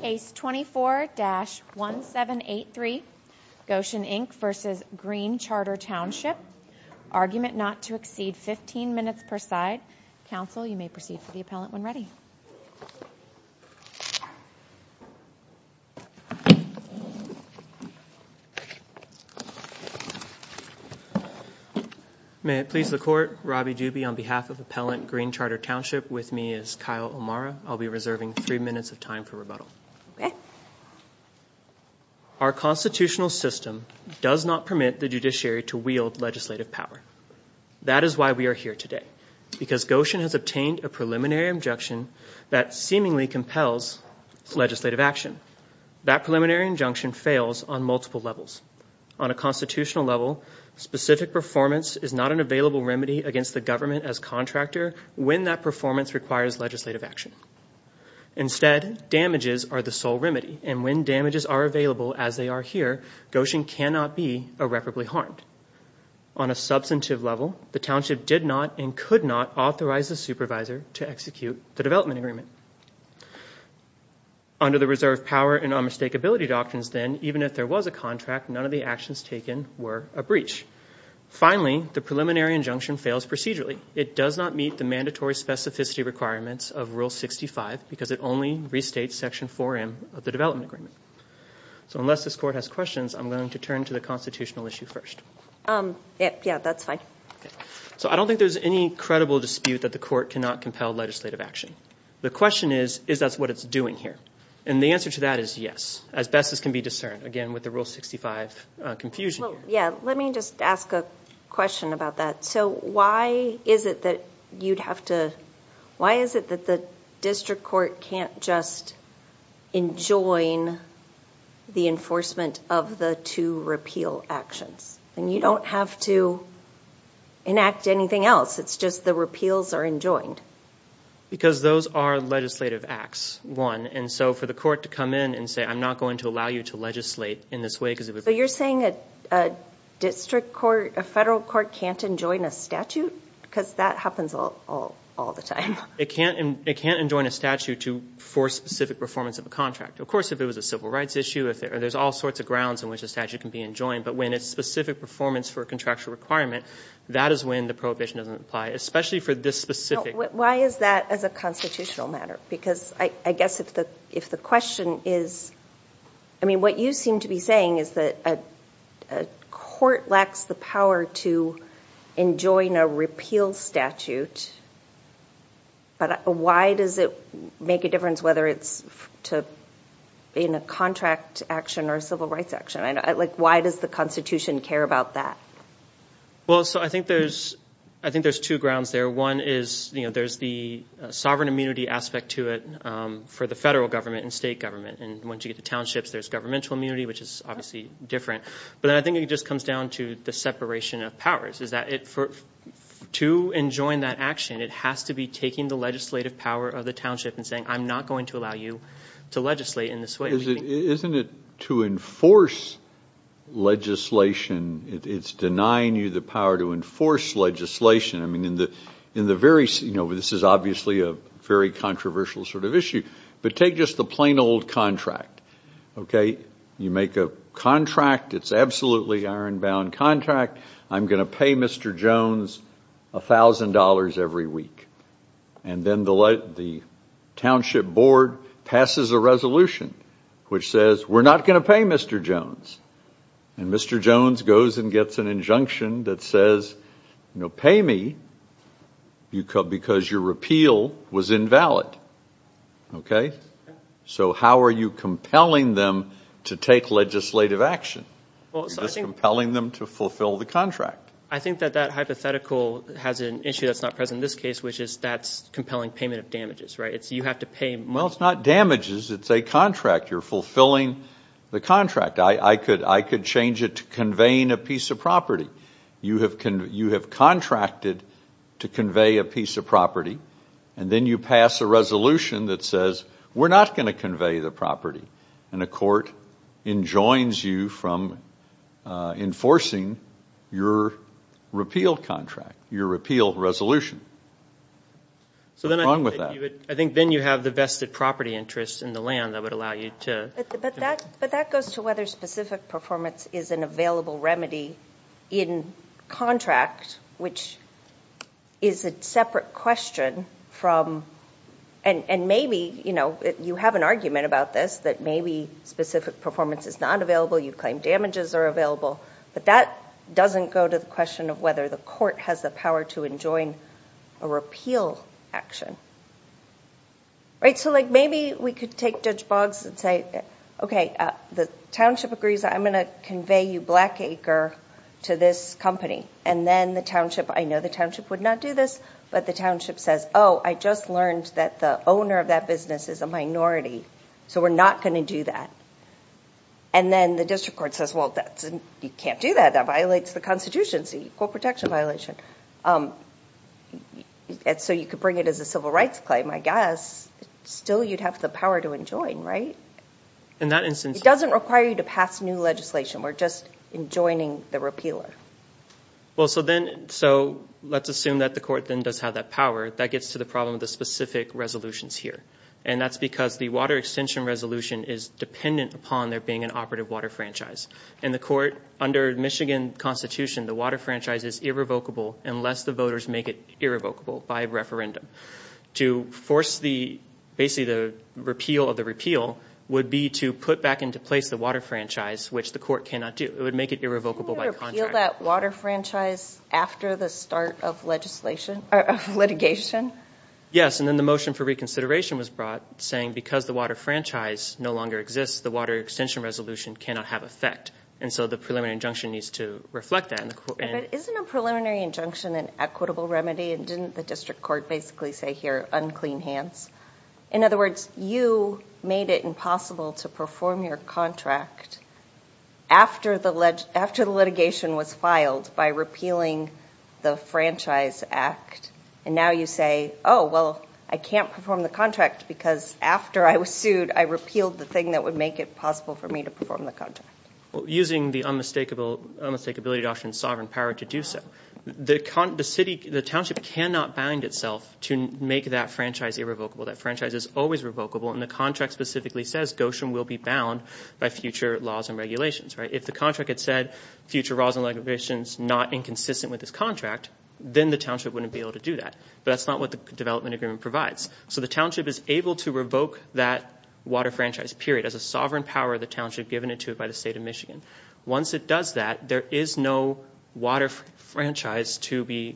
Case 24-1783, Gortion Inc v. Green Charter Township. Argument not to exceed 15 minutes per side. Counsel, you may proceed to the appellant when ready. May it please the Court, Robby Dubey on behalf of Appellant Green Charter Township. With me is Kyle O'Mara. I'll be reserving three minutes of time for rebuttal. Our constitutional system does not permit the judiciary to wield legislative power. That is why we are here today. Because Gortion has obtained a preliminary injunction that seemingly compels legislative action. That preliminary injunction fails on multiple levels. On a constitutional level, specific performance is not an available remedy against the government as contractor. When that performance requires legislative action. Instead, damages are the sole remedy. And when damages are available as they are here, Gortion cannot be irreparably harmed. On a substantive level, the township did not and could not authorize the supervisor to execute the development agreement. Under the reserve power and unmistakability doctrines then, even if there was a contract, none of the actions taken were a breach. Finally, the preliminary injunction fails procedurally. It does not meet the mandatory specificity requirements of Rule 65 because it only restates Section 4M of the development agreement. So unless this court has questions, I'm going to turn to the constitutional issue first. Yeah, that's fine. So I don't think there's any credible dispute that the court cannot compel legislative action. The question is, is that what it's doing here? And the answer to that is yes, as best as can be discerned. Again, with the Rule 65 confusion. Yeah, let me just ask a question about that. So why is it that the district court can't just enjoin the enforcement of the two repeal actions? And you don't have to enact anything else. It's just the repeals are enjoined. Because those are legislative acts, one. And so for the court to come in and say, I'm not going to allow you to legislate in this way because it would— So you're saying a district court, a federal court can't enjoin a statute? Because that happens all the time. It can't enjoin a statute for specific performance of a contract. Of course, if it was a civil rights issue, there's all sorts of grounds in which a statute can be enjoined. But when it's specific performance for a contractual requirement, that is when the prohibition doesn't apply, especially for this specific— Why is that as a constitutional matter? Because I guess if the question is—I mean, what you seem to be saying is that a court lacks the power to enjoin a repeal statute. But why does it make a difference whether it's in a contract action or a civil rights action? Why does the Constitution care about that? Well, so I think there's two grounds there. One is there's the sovereign immunity aspect to it for the federal government and state government. And once you get the townships, there's governmental immunity, which is obviously different. But I think it just comes down to the separation of powers, is that to enjoin that action, it has to be taking the legislative power of the township and saying, I'm not going to allow you to legislate in this way. Isn't it to enforce legislation? It's denying you the power to enforce legislation. I mean, this is obviously a very controversial sort of issue. But take just the plain old contract. You make a contract. It's absolutely ironbound contract. I'm going to pay Mr. Jones $1,000 every week. And then the township board passes a resolution which says, we're not going to pay Mr. Jones. And Mr. Jones goes and gets an injunction that says, you know, pay me because your repeal was invalid. Okay? So how are you compelling them to take legislative action? You're just compelling them to fulfill the contract. I think that that hypothetical has an issue that's not present in this case, which is that's compelling payment of damages, right? You have to pay. Well, it's not damages. It's a contract. You're fulfilling the contract. I could change it to conveying a piece of property. You have contracted to convey a piece of property. And then you pass a resolution that says, we're not going to convey the property. And a court enjoins you from enforcing your repeal contract, your repeal resolution. What's wrong with that? I think then you have the vested property interest in the land that would allow you to. But that goes to whether specific performance is an available remedy in contract, which is a separate question from. And maybe, you know, you have an argument about this, that maybe specific performance is not available. You claim damages are available. But that doesn't go to the question of whether the court has the power to enjoin a repeal action. Right? So, like, maybe we could take Judge Boggs and say, okay, the township agrees I'm going to convey you black acre to this company. And then the township, I know the township would not do this. But the township says, oh, I just learned that the owner of that business is a minority. So we're not going to do that. And then the district court says, well, you can't do that. That violates the Constitution. It's an equal protection violation. And so you could bring it as a civil rights claim, I guess. Still, you'd have the power to enjoin, right? In that instance. It doesn't require you to pass new legislation. We're just enjoining the repealer. Well, so then, so let's assume that the court then does have that power. That gets to the problem of the specific resolutions here. And that's because the water extension resolution is dependent upon there being an operative water franchise. And the court, under Michigan Constitution, the water franchise is irrevocable unless the voters make it irrevocable by referendum. To force the, basically the repeal of the repeal would be to put back into place the water franchise, which the court cannot do. It would make it irrevocable by contract. Can you repeal that water franchise after the start of litigation? Yes. And then the motion for reconsideration was brought, saying because the water franchise no longer exists, the water extension resolution cannot have effect. And so the preliminary injunction needs to reflect that. But isn't a preliminary injunction an equitable remedy? And didn't the district court basically say here, unclean hands? In other words, you made it impossible to perform your contract after the litigation was filed by repealing the franchise act. And now you say, oh, well, I can't perform the contract because after I was sued, I repealed the thing that would make it possible for me to perform the contract. Using the unmistakability doctrine of sovereign power to do so. The township cannot bind itself to make that franchise irrevocable. That franchise is always revocable. And the contract specifically says Goshen will be bound by future laws and regulations. If the contract had said future laws and regulations not inconsistent with this contract, then the township wouldn't be able to do that. But that's not what the development agreement provides. So the township is able to revoke that water franchise, period, as a sovereign power of the township given to it by the state of Michigan. Once it does that, there is no water franchise to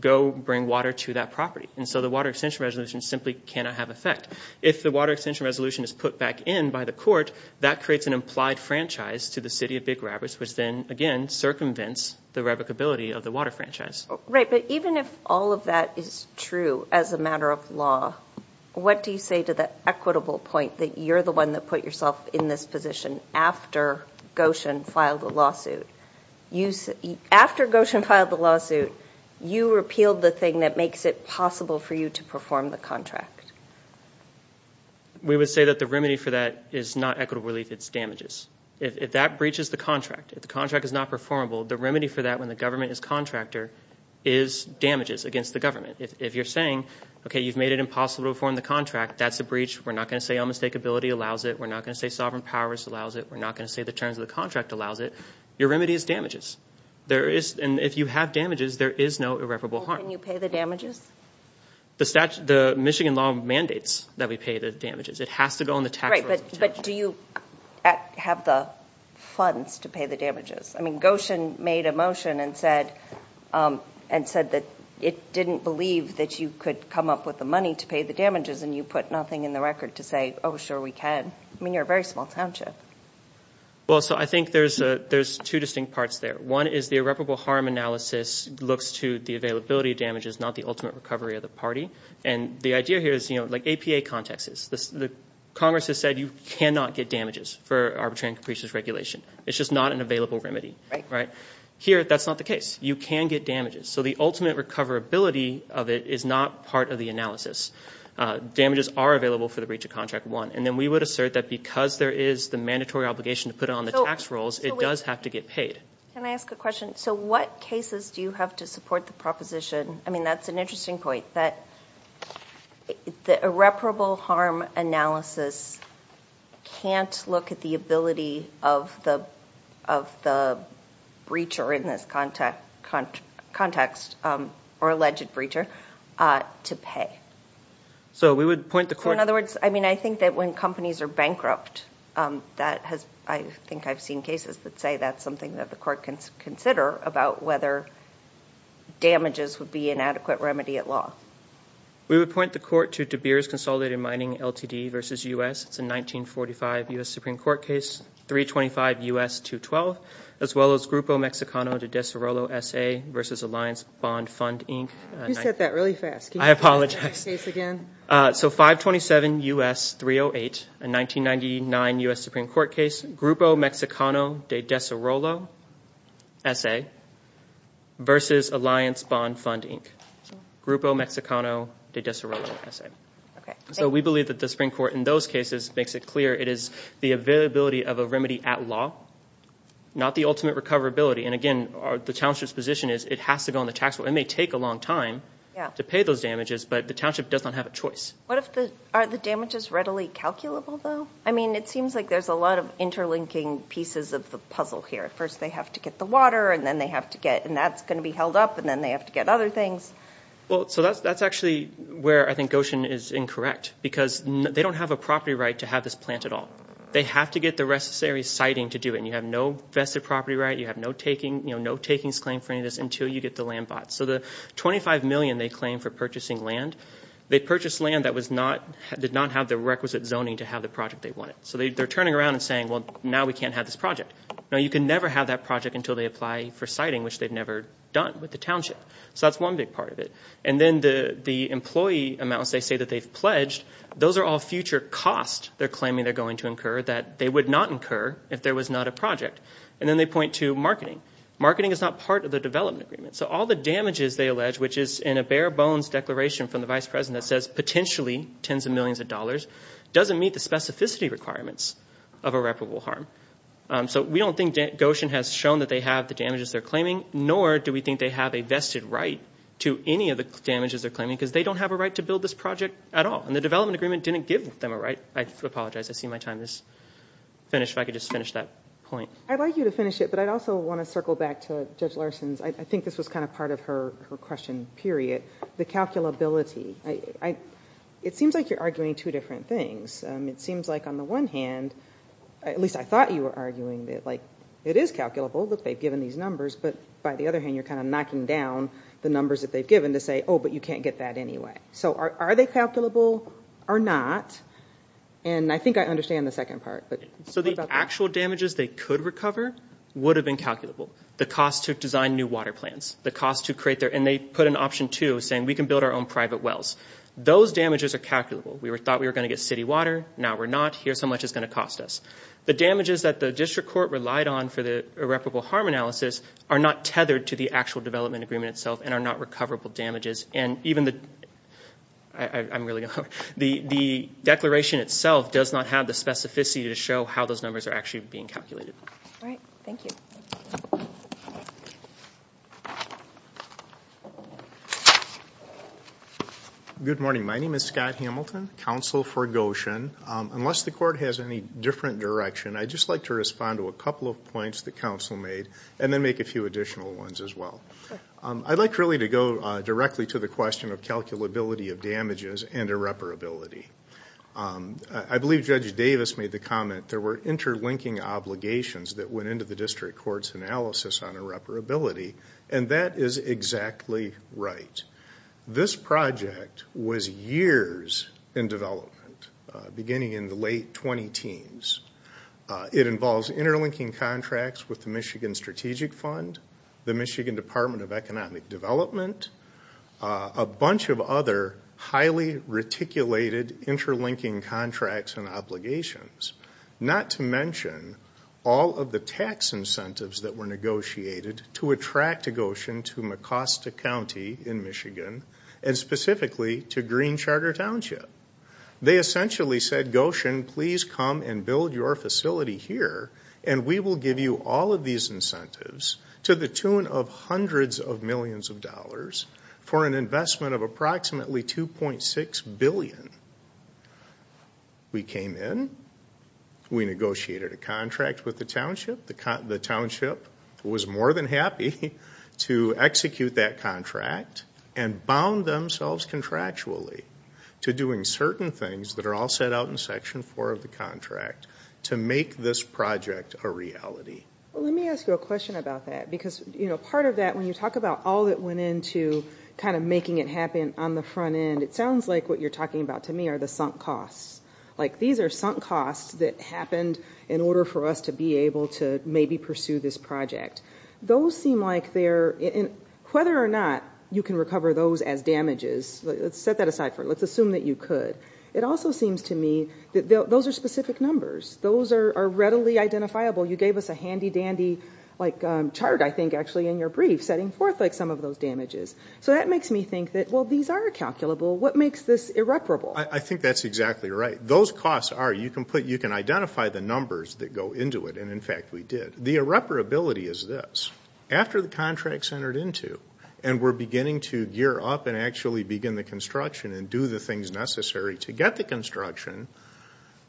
go bring water to that property. And so the water extension resolution simply cannot have effect. If the water extension resolution is put back in by the court, that creates an implied franchise to the city of Big Rapids, which then, again, circumvents the revocability of the water franchise. Right. But even if all of that is true as a matter of law, what do you say to the equitable point that you're the one that put yourself in this position after Goshen filed a lawsuit? After Goshen filed the lawsuit, you repealed the thing that makes it possible for you to perform the contract. We would say that the remedy for that is not equitable relief. It's damages. If that breaches the contract, if the contract is not performable, the remedy for that when the government is contractor is damages against the government. If you're saying, okay, you've made it impossible to perform the contract, that's a breach. We're not going to say unmistakability allows it. We're not going to say sovereign powers allows it. We're not going to say the terms of the contract allows it. Your remedy is damages. And if you have damages, there is no irreparable harm. Can you pay the damages? The Michigan law mandates that we pay the damages. It has to go on the tax- Right, but do you have the funds to pay the damages? I mean, Goshen made a motion and said that it didn't believe that you could come up with the money to pay the damages, and you put nothing in the record to say, oh, sure, we can. I mean, you're a very small township. Well, so I think there's two distinct parts there. One is the irreparable harm analysis looks to the availability of damages, not the ultimate recovery of the party. And the idea here is, you know, like APA context is. Congress has said you cannot get damages for arbitrary and capricious regulation. It's just not an available remedy. Right. Here, that's not the case. You can get damages. So the ultimate recoverability of it is not part of the analysis. Damages are available for the breach of contract one. And then we would assert that because there is the mandatory obligation to put it on the tax rolls, it does have to get paid. Can I ask a question? So what cases do you have to support the proposition? I mean, that's an interesting point, that the irreparable harm analysis can't look at the ability of the breacher in this context or alleged breacher to pay. So we would point the court- I mean, I think that when companies are bankrupt, I think I've seen cases that say that's something that the court can consider about whether damages would be an adequate remedy at law. We would point the court to DeBeers Consolidated Mining Ltd. v. U.S. It's a 1945 U.S. Supreme Court case, 325 U.S. 212, as well as Grupo Mexicano de Desarrollo S.A. v. Alliance Bond Fund, Inc. You said that really fast. I apologize. Can you say that case again? So 527 U.S. 308, a 1999 U.S. Supreme Court case, Grupo Mexicano de Desarrollo S.A. v. Alliance Bond Fund, Inc. Grupo Mexicano de Desarrollo S.A. So we believe that the Supreme Court in those cases makes it clear it is the availability of a remedy at law, not the ultimate recoverability. And again, the township's position is it has to go on the tax roll. It may take a long time to pay those damages, but the township does not have a choice. What if the – are the damages readily calculable, though? I mean, it seems like there's a lot of interlinking pieces of the puzzle here. First, they have to get the water, and then they have to get – and that's going to be held up, and then they have to get other things. Well, so that's actually where I think Goshen is incorrect, because they don't have a property right to have this plant at all. They have to get the necessary siting to do it, and you have no vested property right. You have no takings claim for any of this until you get the land bought. So the $25 million they claim for purchasing land, they purchased land that did not have the requisite zoning to have the project they wanted. So they're turning around and saying, well, now we can't have this project. Now, you can never have that project until they apply for siting, which they've never done with the township. So that's one big part of it. And then the employee amounts they say that they've pledged, those are all future costs they're claiming they're going to incur that they would not incur if there was not a project. And then they point to marketing. Marketing is not part of the development agreement. So all the damages they allege, which is in a bare-bones declaration from the vice president that says potentially tens of millions of dollars, doesn't meet the specificity requirements of irreparable harm. So we don't think Goshen has shown that they have the damages they're claiming, nor do we think they have a vested right to any of the damages they're claiming, because they don't have a right to build this project at all. And the development agreement didn't give them a right. I apologize. I see my time is finished. If I could just finish that point. I'd like you to finish it, but I'd also want to circle back to Judge Larson's, I think this was kind of part of her question, period, the calculability. It seems like you're arguing two different things. It seems like on the one hand, at least I thought you were arguing that it is calculable that they've given these numbers, but by the other hand you're kind of knocking down the numbers that they've given to say, oh, but you can't get that anyway. So are they calculable or not? And I think I understand the second part. So the actual damages they could recover would have been calculable. The cost to design new water plants, the cost to create their – and they put an option, too, saying we can build our own private wells. Those damages are calculable. We thought we were going to get city water. Now we're not. Here's how much it's going to cost us. The damages that the district court relied on for the irreparable harm analysis are not tethered to the actual development agreement itself and are not recoverable damages. And even the declaration itself does not have the specificity to show how those numbers are actually being calculated. All right. Thank you. Good morning. My name is Scott Hamilton, counsel for Goshen. Unless the court has any different direction, I'd just like to respond to a couple of points the council made and then make a few additional ones as well. I'd like really to go directly to the question of calculability of damages and irreparability. I believe Judge Davis made the comment there were interlinking obligations that went into the district court's analysis on irreparability, and that is exactly right. This project was years in development, beginning in the late 20-teens. It involves interlinking contracts with the Michigan Strategic Fund, the Michigan Department of Economic Development, a bunch of other highly reticulated interlinking contracts and obligations, not to mention all of the tax incentives that were negotiated to attract Goshen to Mecosta County in Michigan and specifically to Green Charter Township. They essentially said, Goshen, please come and build your facility here, and we will give you all of these incentives to the tune of hundreds of millions of dollars for an investment of approximately $2.6 billion. We came in. We negotiated a contract with the township. The township was more than happy to execute that contract and bound themselves contractually to doing certain things that are all set out in Section 4 of the contract to make this project a reality. Let me ask you a question about that because part of that, when you talk about all that went into kind of making it happen on the front end, it sounds like what you're talking about to me are the sunk costs. Like these are sunk costs that happened in order for us to be able to maybe pursue this project. Those seem like they're in whether or not you can recover those as damages. Let's set that aside for a minute. Let's assume that you could. It also seems to me that those are specific numbers. Those are readily identifiable. You gave us a handy-dandy chart, I think, actually, in your brief, setting forth some of those damages. So that makes me think that, well, these are calculable. What makes this irreparable? I think that's exactly right. Those costs are you can identify the numbers that go into it, and, in fact, we did. The irreparability is this. After the contract's entered into and we're beginning to gear up and actually begin the construction and do the things necessary to get the construction,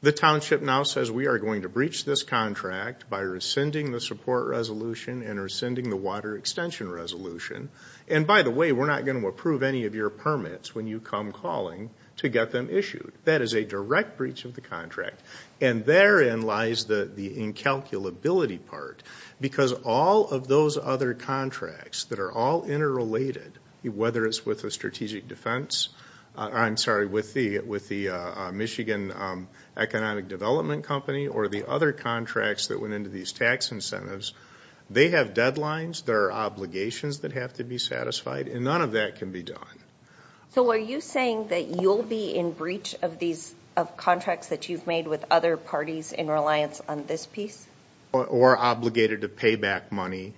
the township now says we are going to breach this contract by rescinding the support resolution and rescinding the water extension resolution. And, by the way, we're not going to approve any of your permits when you come calling to get them issued. That is a direct breach of the contract. And therein lies the incalculability part because all of those other contracts that are all interrelated, whether it's with the strategic defense, I'm sorry, with the Michigan Economic Development Company or the other contracts that went into these tax incentives, they have deadlines. There are obligations that have to be satisfied, and none of that can be done. So are you saying that you'll be in breach of contracts that you've made with other parties in reliance on this piece? Or obligated to pay back money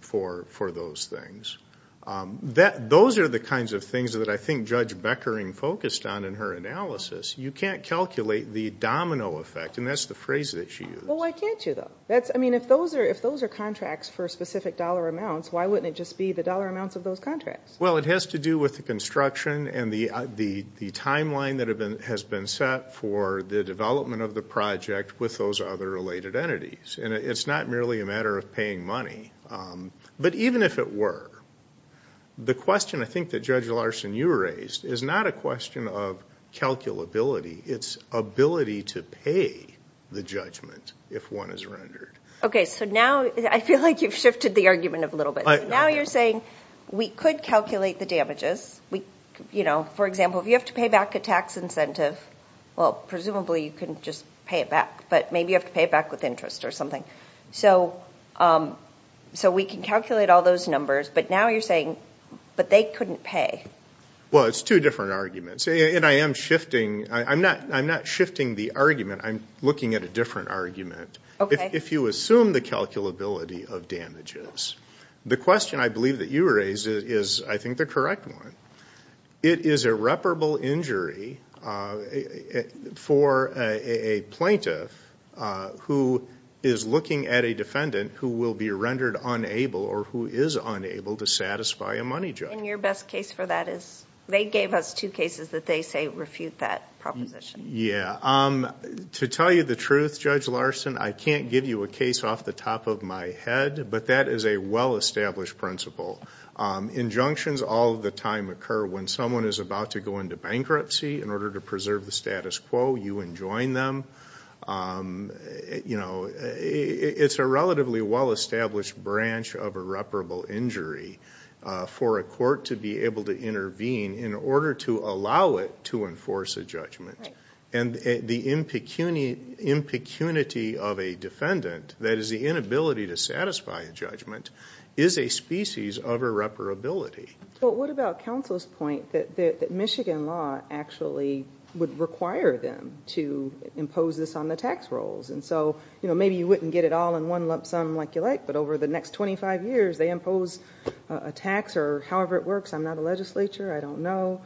for those things. Those are the kinds of things that I think Judge Beckering focused on in her analysis. You can't calculate the domino effect, and that's the phrase that she used. Well, why can't you, though? I mean, if those are contracts for specific dollar amounts, why wouldn't it just be the dollar amounts of those contracts? Well, it has to do with the construction and the timeline that has been set for the development of the project with those other related entities. And it's not merely a matter of paying money. But even if it were, the question I think that Judge Larson, you raised, is not a question of calculability. It's ability to pay the judgment if one is rendered. Okay, so now I feel like you've shifted the argument a little bit. Now you're saying we could calculate the damages. For example, if you have to pay back a tax incentive, well, presumably you can just pay it back. But maybe you have to pay it back with interest or something. So we can calculate all those numbers. But now you're saying, but they couldn't pay. Well, it's two different arguments. And I am shifting. I'm not shifting the argument. I'm looking at a different argument. If you assume the calculability of damages, the question I believe that you raised is, I think, the correct one. It is a reparable injury for a plaintiff who is looking at a defendant who will be rendered unable or who is unable to satisfy a money judgment. And your best case for that is they gave us two cases that they say refute that proposition. Yeah. To tell you the truth, Judge Larson, I can't give you a case off the top of my head. But that is a well-established principle. Injunctions all the time occur when someone is about to go into bankruptcy. In order to preserve the status quo, you enjoin them. It's a relatively well-established branch of a reparable injury for a court to be able to intervene in order to allow it to enforce a judgment. And the impecunity of a defendant, that is the inability to satisfy a judgment, is a species of irreparability. Well, what about counsel's point that Michigan law actually would require them to impose this on the tax rolls? And so maybe you wouldn't get it all in one lump sum like you like, but over the next 25 years they impose a tax or however it works, I'm not a legislature, I don't know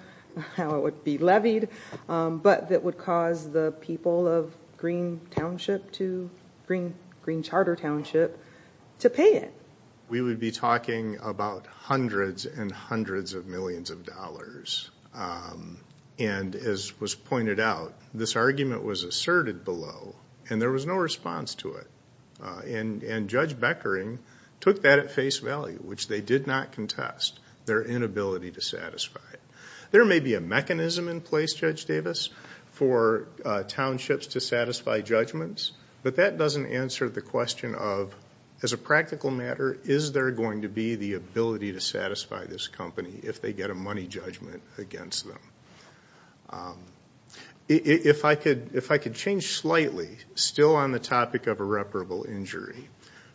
how it would be levied, but that would cause the people of Green Charter Township to pay it. We would be talking about hundreds and hundreds of millions of dollars. And as was pointed out, this argument was asserted below, and there was no response to it. And Judge Beckering took that at face value, which they did not contest, their inability to satisfy it. There may be a mechanism in place, Judge Davis, for townships to satisfy judgments, but that doesn't answer the question of, as a practical matter, is there going to be the ability to satisfy this company if they get a money judgment against them? If I could change slightly, still on the topic of irreparable injury,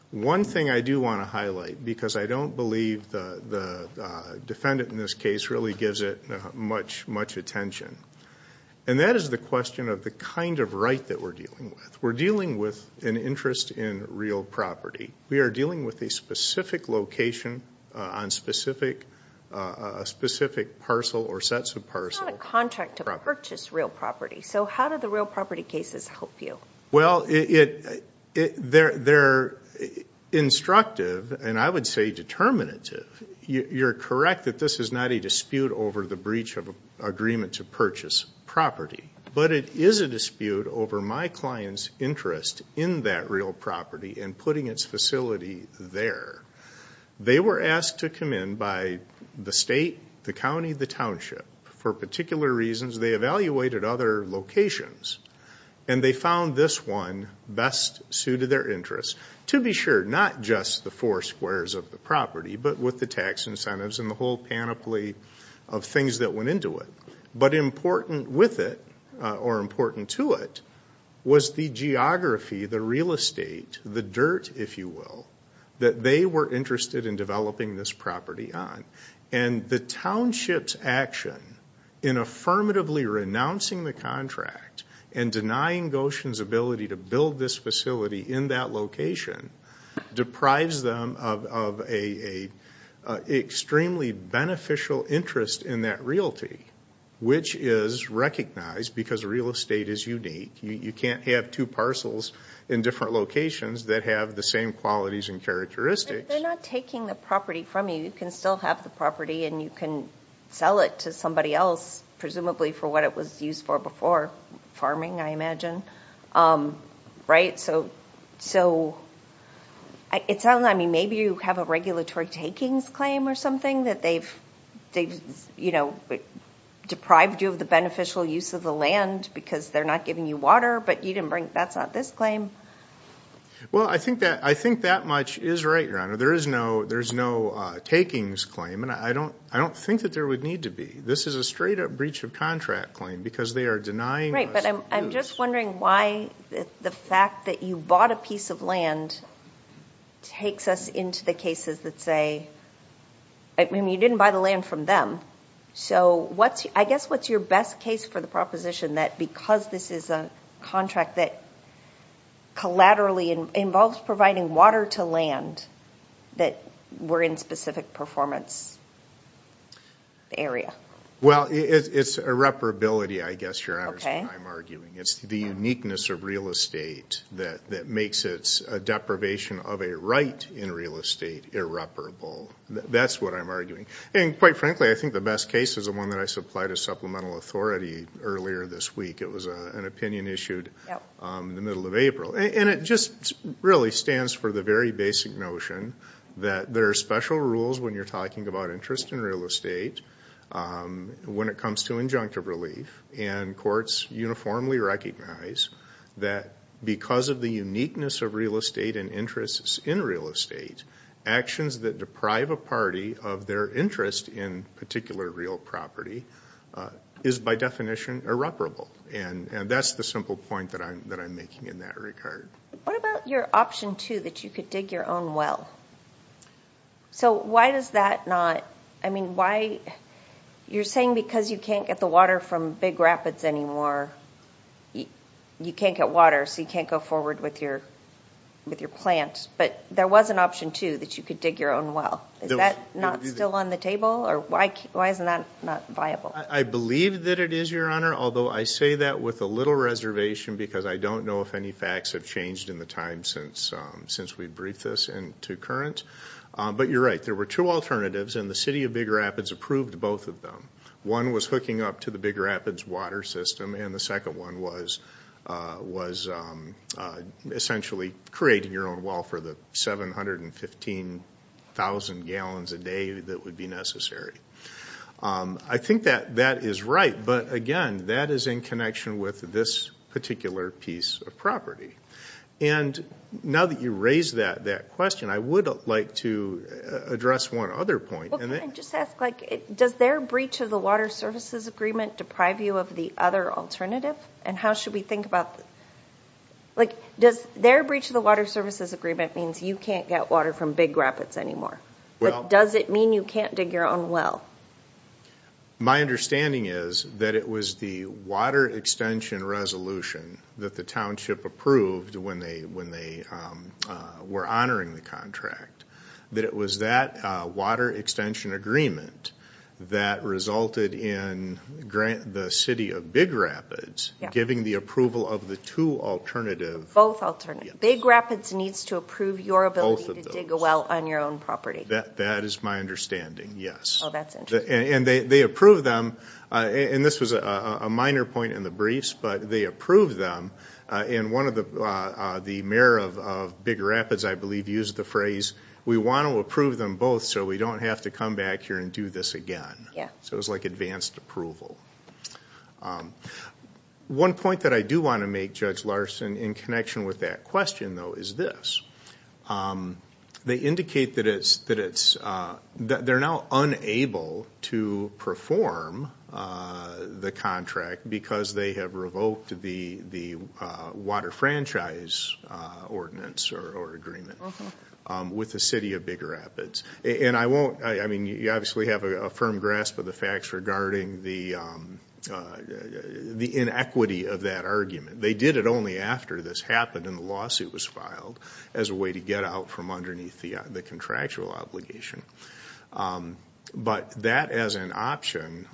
one thing I do want to highlight, because I don't believe the defendant in this case really gives it much attention, and that is the question of the kind of right that we're dealing with. We're dealing with an interest in real property. We are dealing with a specific location on a specific parcel or sets of parcel. It's not a contract to purchase real property, so how do the real property cases help you? Well, they're instructive, and I would say determinative. You're correct that this is not a dispute over the breach of agreement to purchase property, but it is a dispute over my client's interest in that real property and putting its facility there. They were asked to come in by the state, the county, the township for particular reasons. They evaluated other locations, and they found this one best suited their interests, to be sure, not just the four squares of the property but with the tax incentives and the whole panoply of things that went into it. But important with it or important to it was the geography, the real estate, the dirt, if you will, that they were interested in developing this property on. And the township's action in affirmatively renouncing the contract and denying Goshen's ability to build this facility in that location deprives them of an extremely beneficial interest in that realty, which is recognized because real estate is unique. You can't have two parcels in different locations that have the same qualities and characteristics. But they're not taking the property from you. You can still have the property, and you can sell it to somebody else, presumably for what it was used for before, farming, I imagine, right? So it sounds like maybe you have a regulatory takings claim or something that they've deprived you of the beneficial use of the land because they're not giving you water, but that's not this claim. Well, I think that much is right, Your Honor. There is no takings claim, and I don't think that there would need to be. This is a straight-up breach of contract claim because they are denying us use. Right, but I'm just wondering why the fact that you bought a piece of land takes us into the cases that say you didn't buy the land from them. So I guess what's your best case for the proposition that because this is a contract that collaterally involves providing water to land that we're in specific performance area? Well, it's irreparability, I guess, Your Honor, is what I'm arguing. It's the uniqueness of real estate that makes its deprivation of a right in real estate irreparable. That's what I'm arguing. And quite frankly, I think the best case is the one that I supplied as supplemental authority earlier this week. It was an opinion issued in the middle of April. And it just really stands for the very basic notion that there are special rules when you're talking about interest in real estate when it comes to injunctive relief, and courts uniformly recognize that because of the uniqueness of real estate and interests in real estate, actions that deprive a party of their interest in particular real property is by definition irreparable. And that's the simple point that I'm making in that regard. What about your option two, that you could dig your own well? So why does that not – I mean, why – you're saying because you can't get the water from big rapids anymore, you can't get water, so you can't go forward with your plant. But there was an option two, that you could dig your own well. Is that not still on the table, or why isn't that not viable? I believe that it is, Your Honor, although I say that with a little reservation because I don't know if any facts have changed in the time since we briefed this into current. But you're right. There were two alternatives, and the city of Big Rapids approved both of them. One was hooking up to the Big Rapids water system, and the second one was essentially creating your own well for the 715,000 gallons a day that would be necessary. I think that that is right, but, again, that is in connection with this particular piece of property. And now that you raised that question, I would like to address one other point. Well, can I just ask, like, does their breach of the water services agreement deprive you of the other alternative? And how should we think about that? Like, does their breach of the water services agreement mean you can't get water from Big Rapids anymore? Does it mean you can't dig your own well? My understanding is that it was the water extension resolution that the township approved when they were honoring the contract. That it was that water extension agreement that resulted in the city of Big Rapids giving the approval of the two alternative. Both alternatives. Big Rapids needs to approve your ability to dig a well on your own property. That is my understanding, yes. Oh, that's interesting. And they approved them. And this was a minor point in the briefs, but they approved them. And one of the mayor of Big Rapids, I believe, used the phrase, we want to approve them both so we don't have to come back here and do this again. So it was like advanced approval. One point that I do want to make, Judge Larson, in connection with that question, though, is this. They indicate that they're now unable to perform the contract because they have revoked the water franchise ordinance or agreement with the city of Big Rapids. And I won't, I mean, you obviously have a firm grasp of the facts regarding the inequity of that argument. They did it only after this happened and the lawsuit was filed as a way to get out from underneath the contractual obligation. But that as an option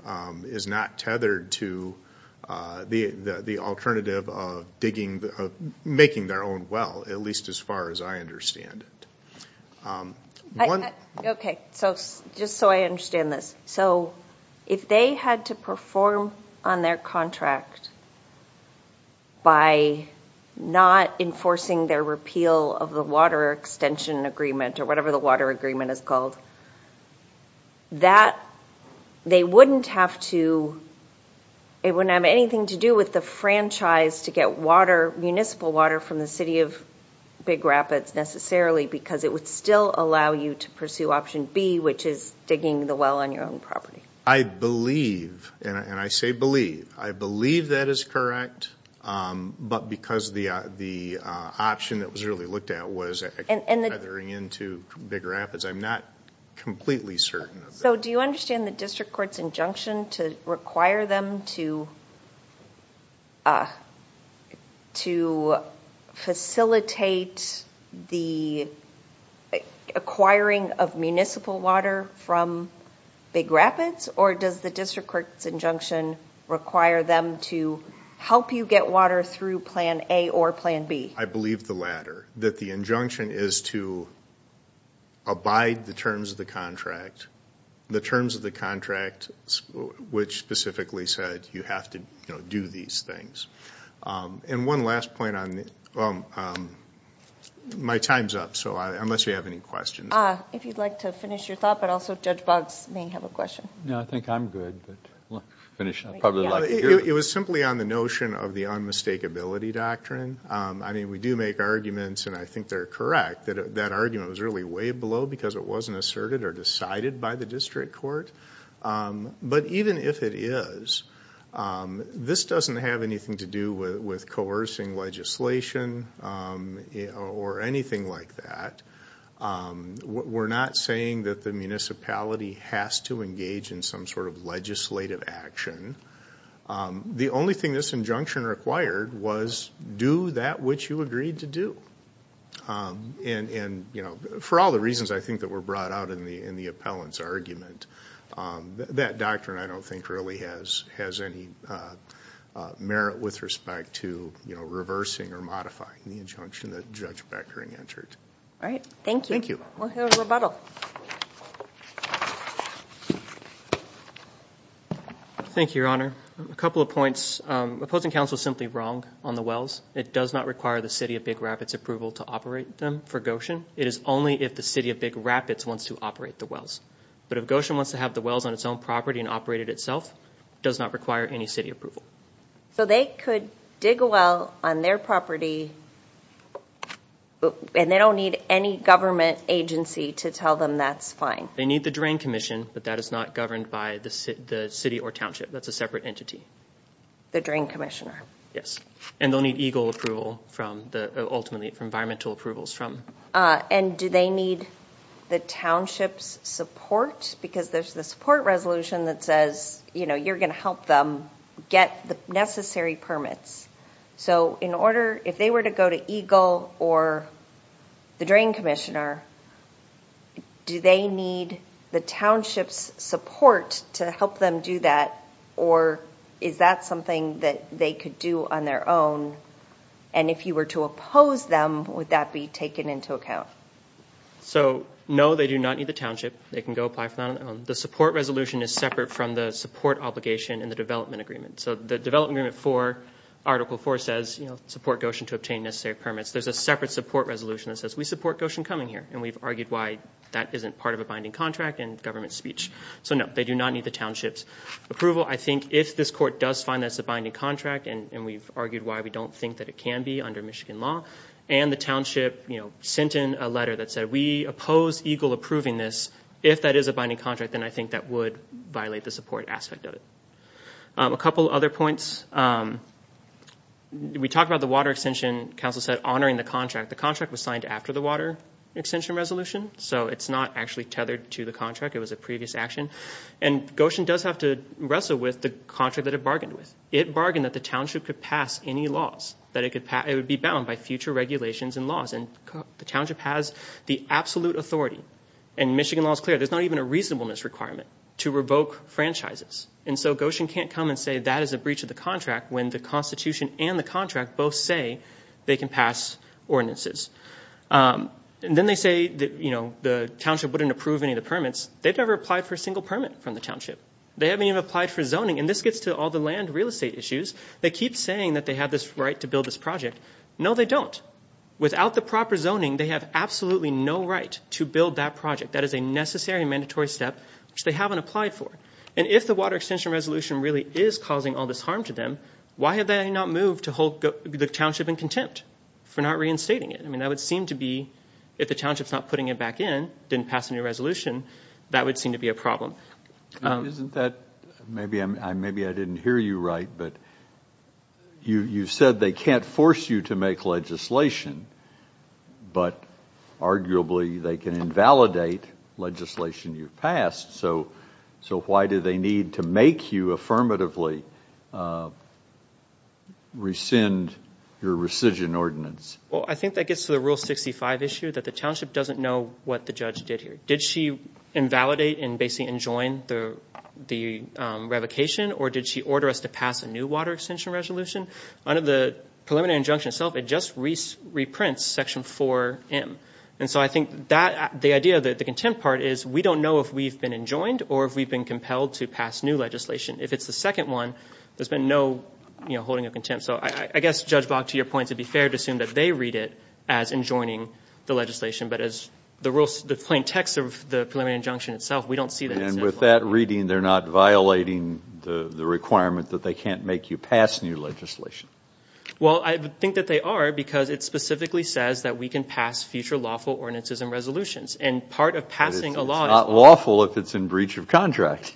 is not tethered to the alternative of digging, of making their own well, at least as far as I understand it. Okay. So just so I understand this. So if they had to perform on their contract by not enforcing their repeal of the water extension agreement or whatever the water agreement is called, that, they wouldn't have to, it wouldn't have anything to do with the franchise to get water, municipal water from the city of Big Rapids necessarily because it would still allow you to pursue option B, which is digging the well on your own property. I believe, and I say believe, I believe that is correct. But because the option that was really looked at was tethering into Big Rapids. I'm not completely certain of that. So do you understand the district court's injunction to require them to facilitate the acquiring of municipal water from Big Rapids? Or does the district court's injunction require them to help you get water through plan A or plan B? I believe the latter. That the injunction is to abide the terms of the contract, the terms of the contract which specifically said you have to do these things. And one last point on, my time's up, so unless you have any questions. If you'd like to finish your thought, but also Judge Boggs may have a question. No, I think I'm good. It was simply on the notion of the unmistakability doctrine. I mean we do make arguments, and I think they're correct, that that argument was really way below because it wasn't asserted or decided by the district court. But even if it is, this doesn't have anything to do with coercing legislation or anything like that. We're not saying that the municipality has to engage in some sort of legislative action. The only thing this injunction required was do that which you agreed to do. And for all the reasons I think that were brought out in the appellant's argument, that doctrine I don't think really has any merit with respect to reversing or modifying the injunction that Judge Beckering entered. All right, thank you. Thank you. We'll hear a rebuttal. Thank you, Your Honor. A couple of points. Opposing counsel is simply wrong on the wells. It does not require the city of Big Rapids approval to operate them for Goshen. It is only if the city of Big Rapids wants to operate the wells. But if Goshen wants to have the wells on its own property and operate it itself, it does not require any city approval. So they could dig a well on their property, and they don't need any government agency to tell them that's fine. They need the Drain Commission, but that is not governed by the city or township. That's a separate entity. The Drain Commissioner. Yes. And they'll need EGLE approval ultimately, environmental approvals from. And do they need the township's support? Because there's the support resolution that says you're going to help them get the necessary permits. So in order, if they were to go to EGLE or the Drain Commissioner, do they need the township's support to help them do that? Or is that something that they could do on their own? And if you were to oppose them, would that be taken into account? So, no, they do not need the township. They can go apply for that on their own. The support resolution is separate from the support obligation in the development agreement. So the development agreement for Article 4 says support Goshen to obtain necessary permits. There's a separate support resolution that says we support Goshen coming here, and we've argued why that isn't part of a binding contract in government speech. So, no, they do not need the township's approval. I think if this court does find that it's a binding contract, and we've argued why we don't think that it can be under Michigan law, and the township sent in a letter that said we oppose EGLE approving this, if that is a binding contract, then I think that would violate the support aspect of it. A couple other points. We talked about the water extension council said honoring the contract. The contract was signed after the water extension resolution, so it's not actually tethered to the contract. It was a previous action. And Goshen does have to wrestle with the contract that it bargained with. It bargained that the township could pass any laws, that it would be bound by future regulations and laws. And the township has the absolute authority. And Michigan law is clear. There's not even a reasonableness requirement to revoke franchises. And so Goshen can't come and say that is a breach of the contract when the Constitution and the contract both say they can pass ordinances. And then they say the township wouldn't approve any of the permits. They've never applied for a single permit from the township. They haven't even applied for zoning. And this gets to all the land real estate issues. They keep saying that they have this right to build this project. No, they don't. Without the proper zoning, they have absolutely no right to build that project. That is a necessary and mandatory step which they haven't applied for. And if the water extension resolution really is causing all this harm to them, why have they not moved to hold the township in contempt for not reinstating it? I mean, that would seem to be if the township's not putting it back in, didn't pass any resolution, that would seem to be a problem. Isn't that – maybe I didn't hear you right, but you said they can't force you to make legislation, but arguably they can invalidate legislation you've passed. So why do they need to make you affirmatively rescind your rescission ordinance? Well, I think that gets to the Rule 65 issue, that the township doesn't know what the judge did here. Did she invalidate and basically enjoin the revocation, or did she order us to pass a new water extension resolution? Under the preliminary injunction itself, it just reprints Section 4M. And so I think the idea of the contempt part is we don't know if we've been enjoined or if we've been compelled to pass new legislation. If it's the second one, there's been no holding of contempt. So I guess, Judge Bock, to your point, it would be fair to assume that they read it as enjoining the legislation, but as the plain text of the preliminary injunction itself, we don't see that. And with that reading, they're not violating the requirement that they can't make you pass new legislation? Well, I think that they are, because it specifically says that we can pass future lawful ordinances and resolutions. And part of passing a law is— But it's not lawful if it's in breach of contract.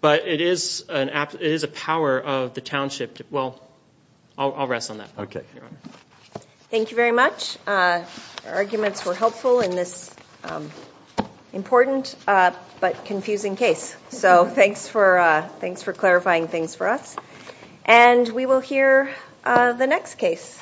But it is a power of the township. Well, I'll rest on that. Okay. Thank you very much. Your arguments were helpful in this important but confusing case. So thanks for clarifying things for us. And we will hear the next case.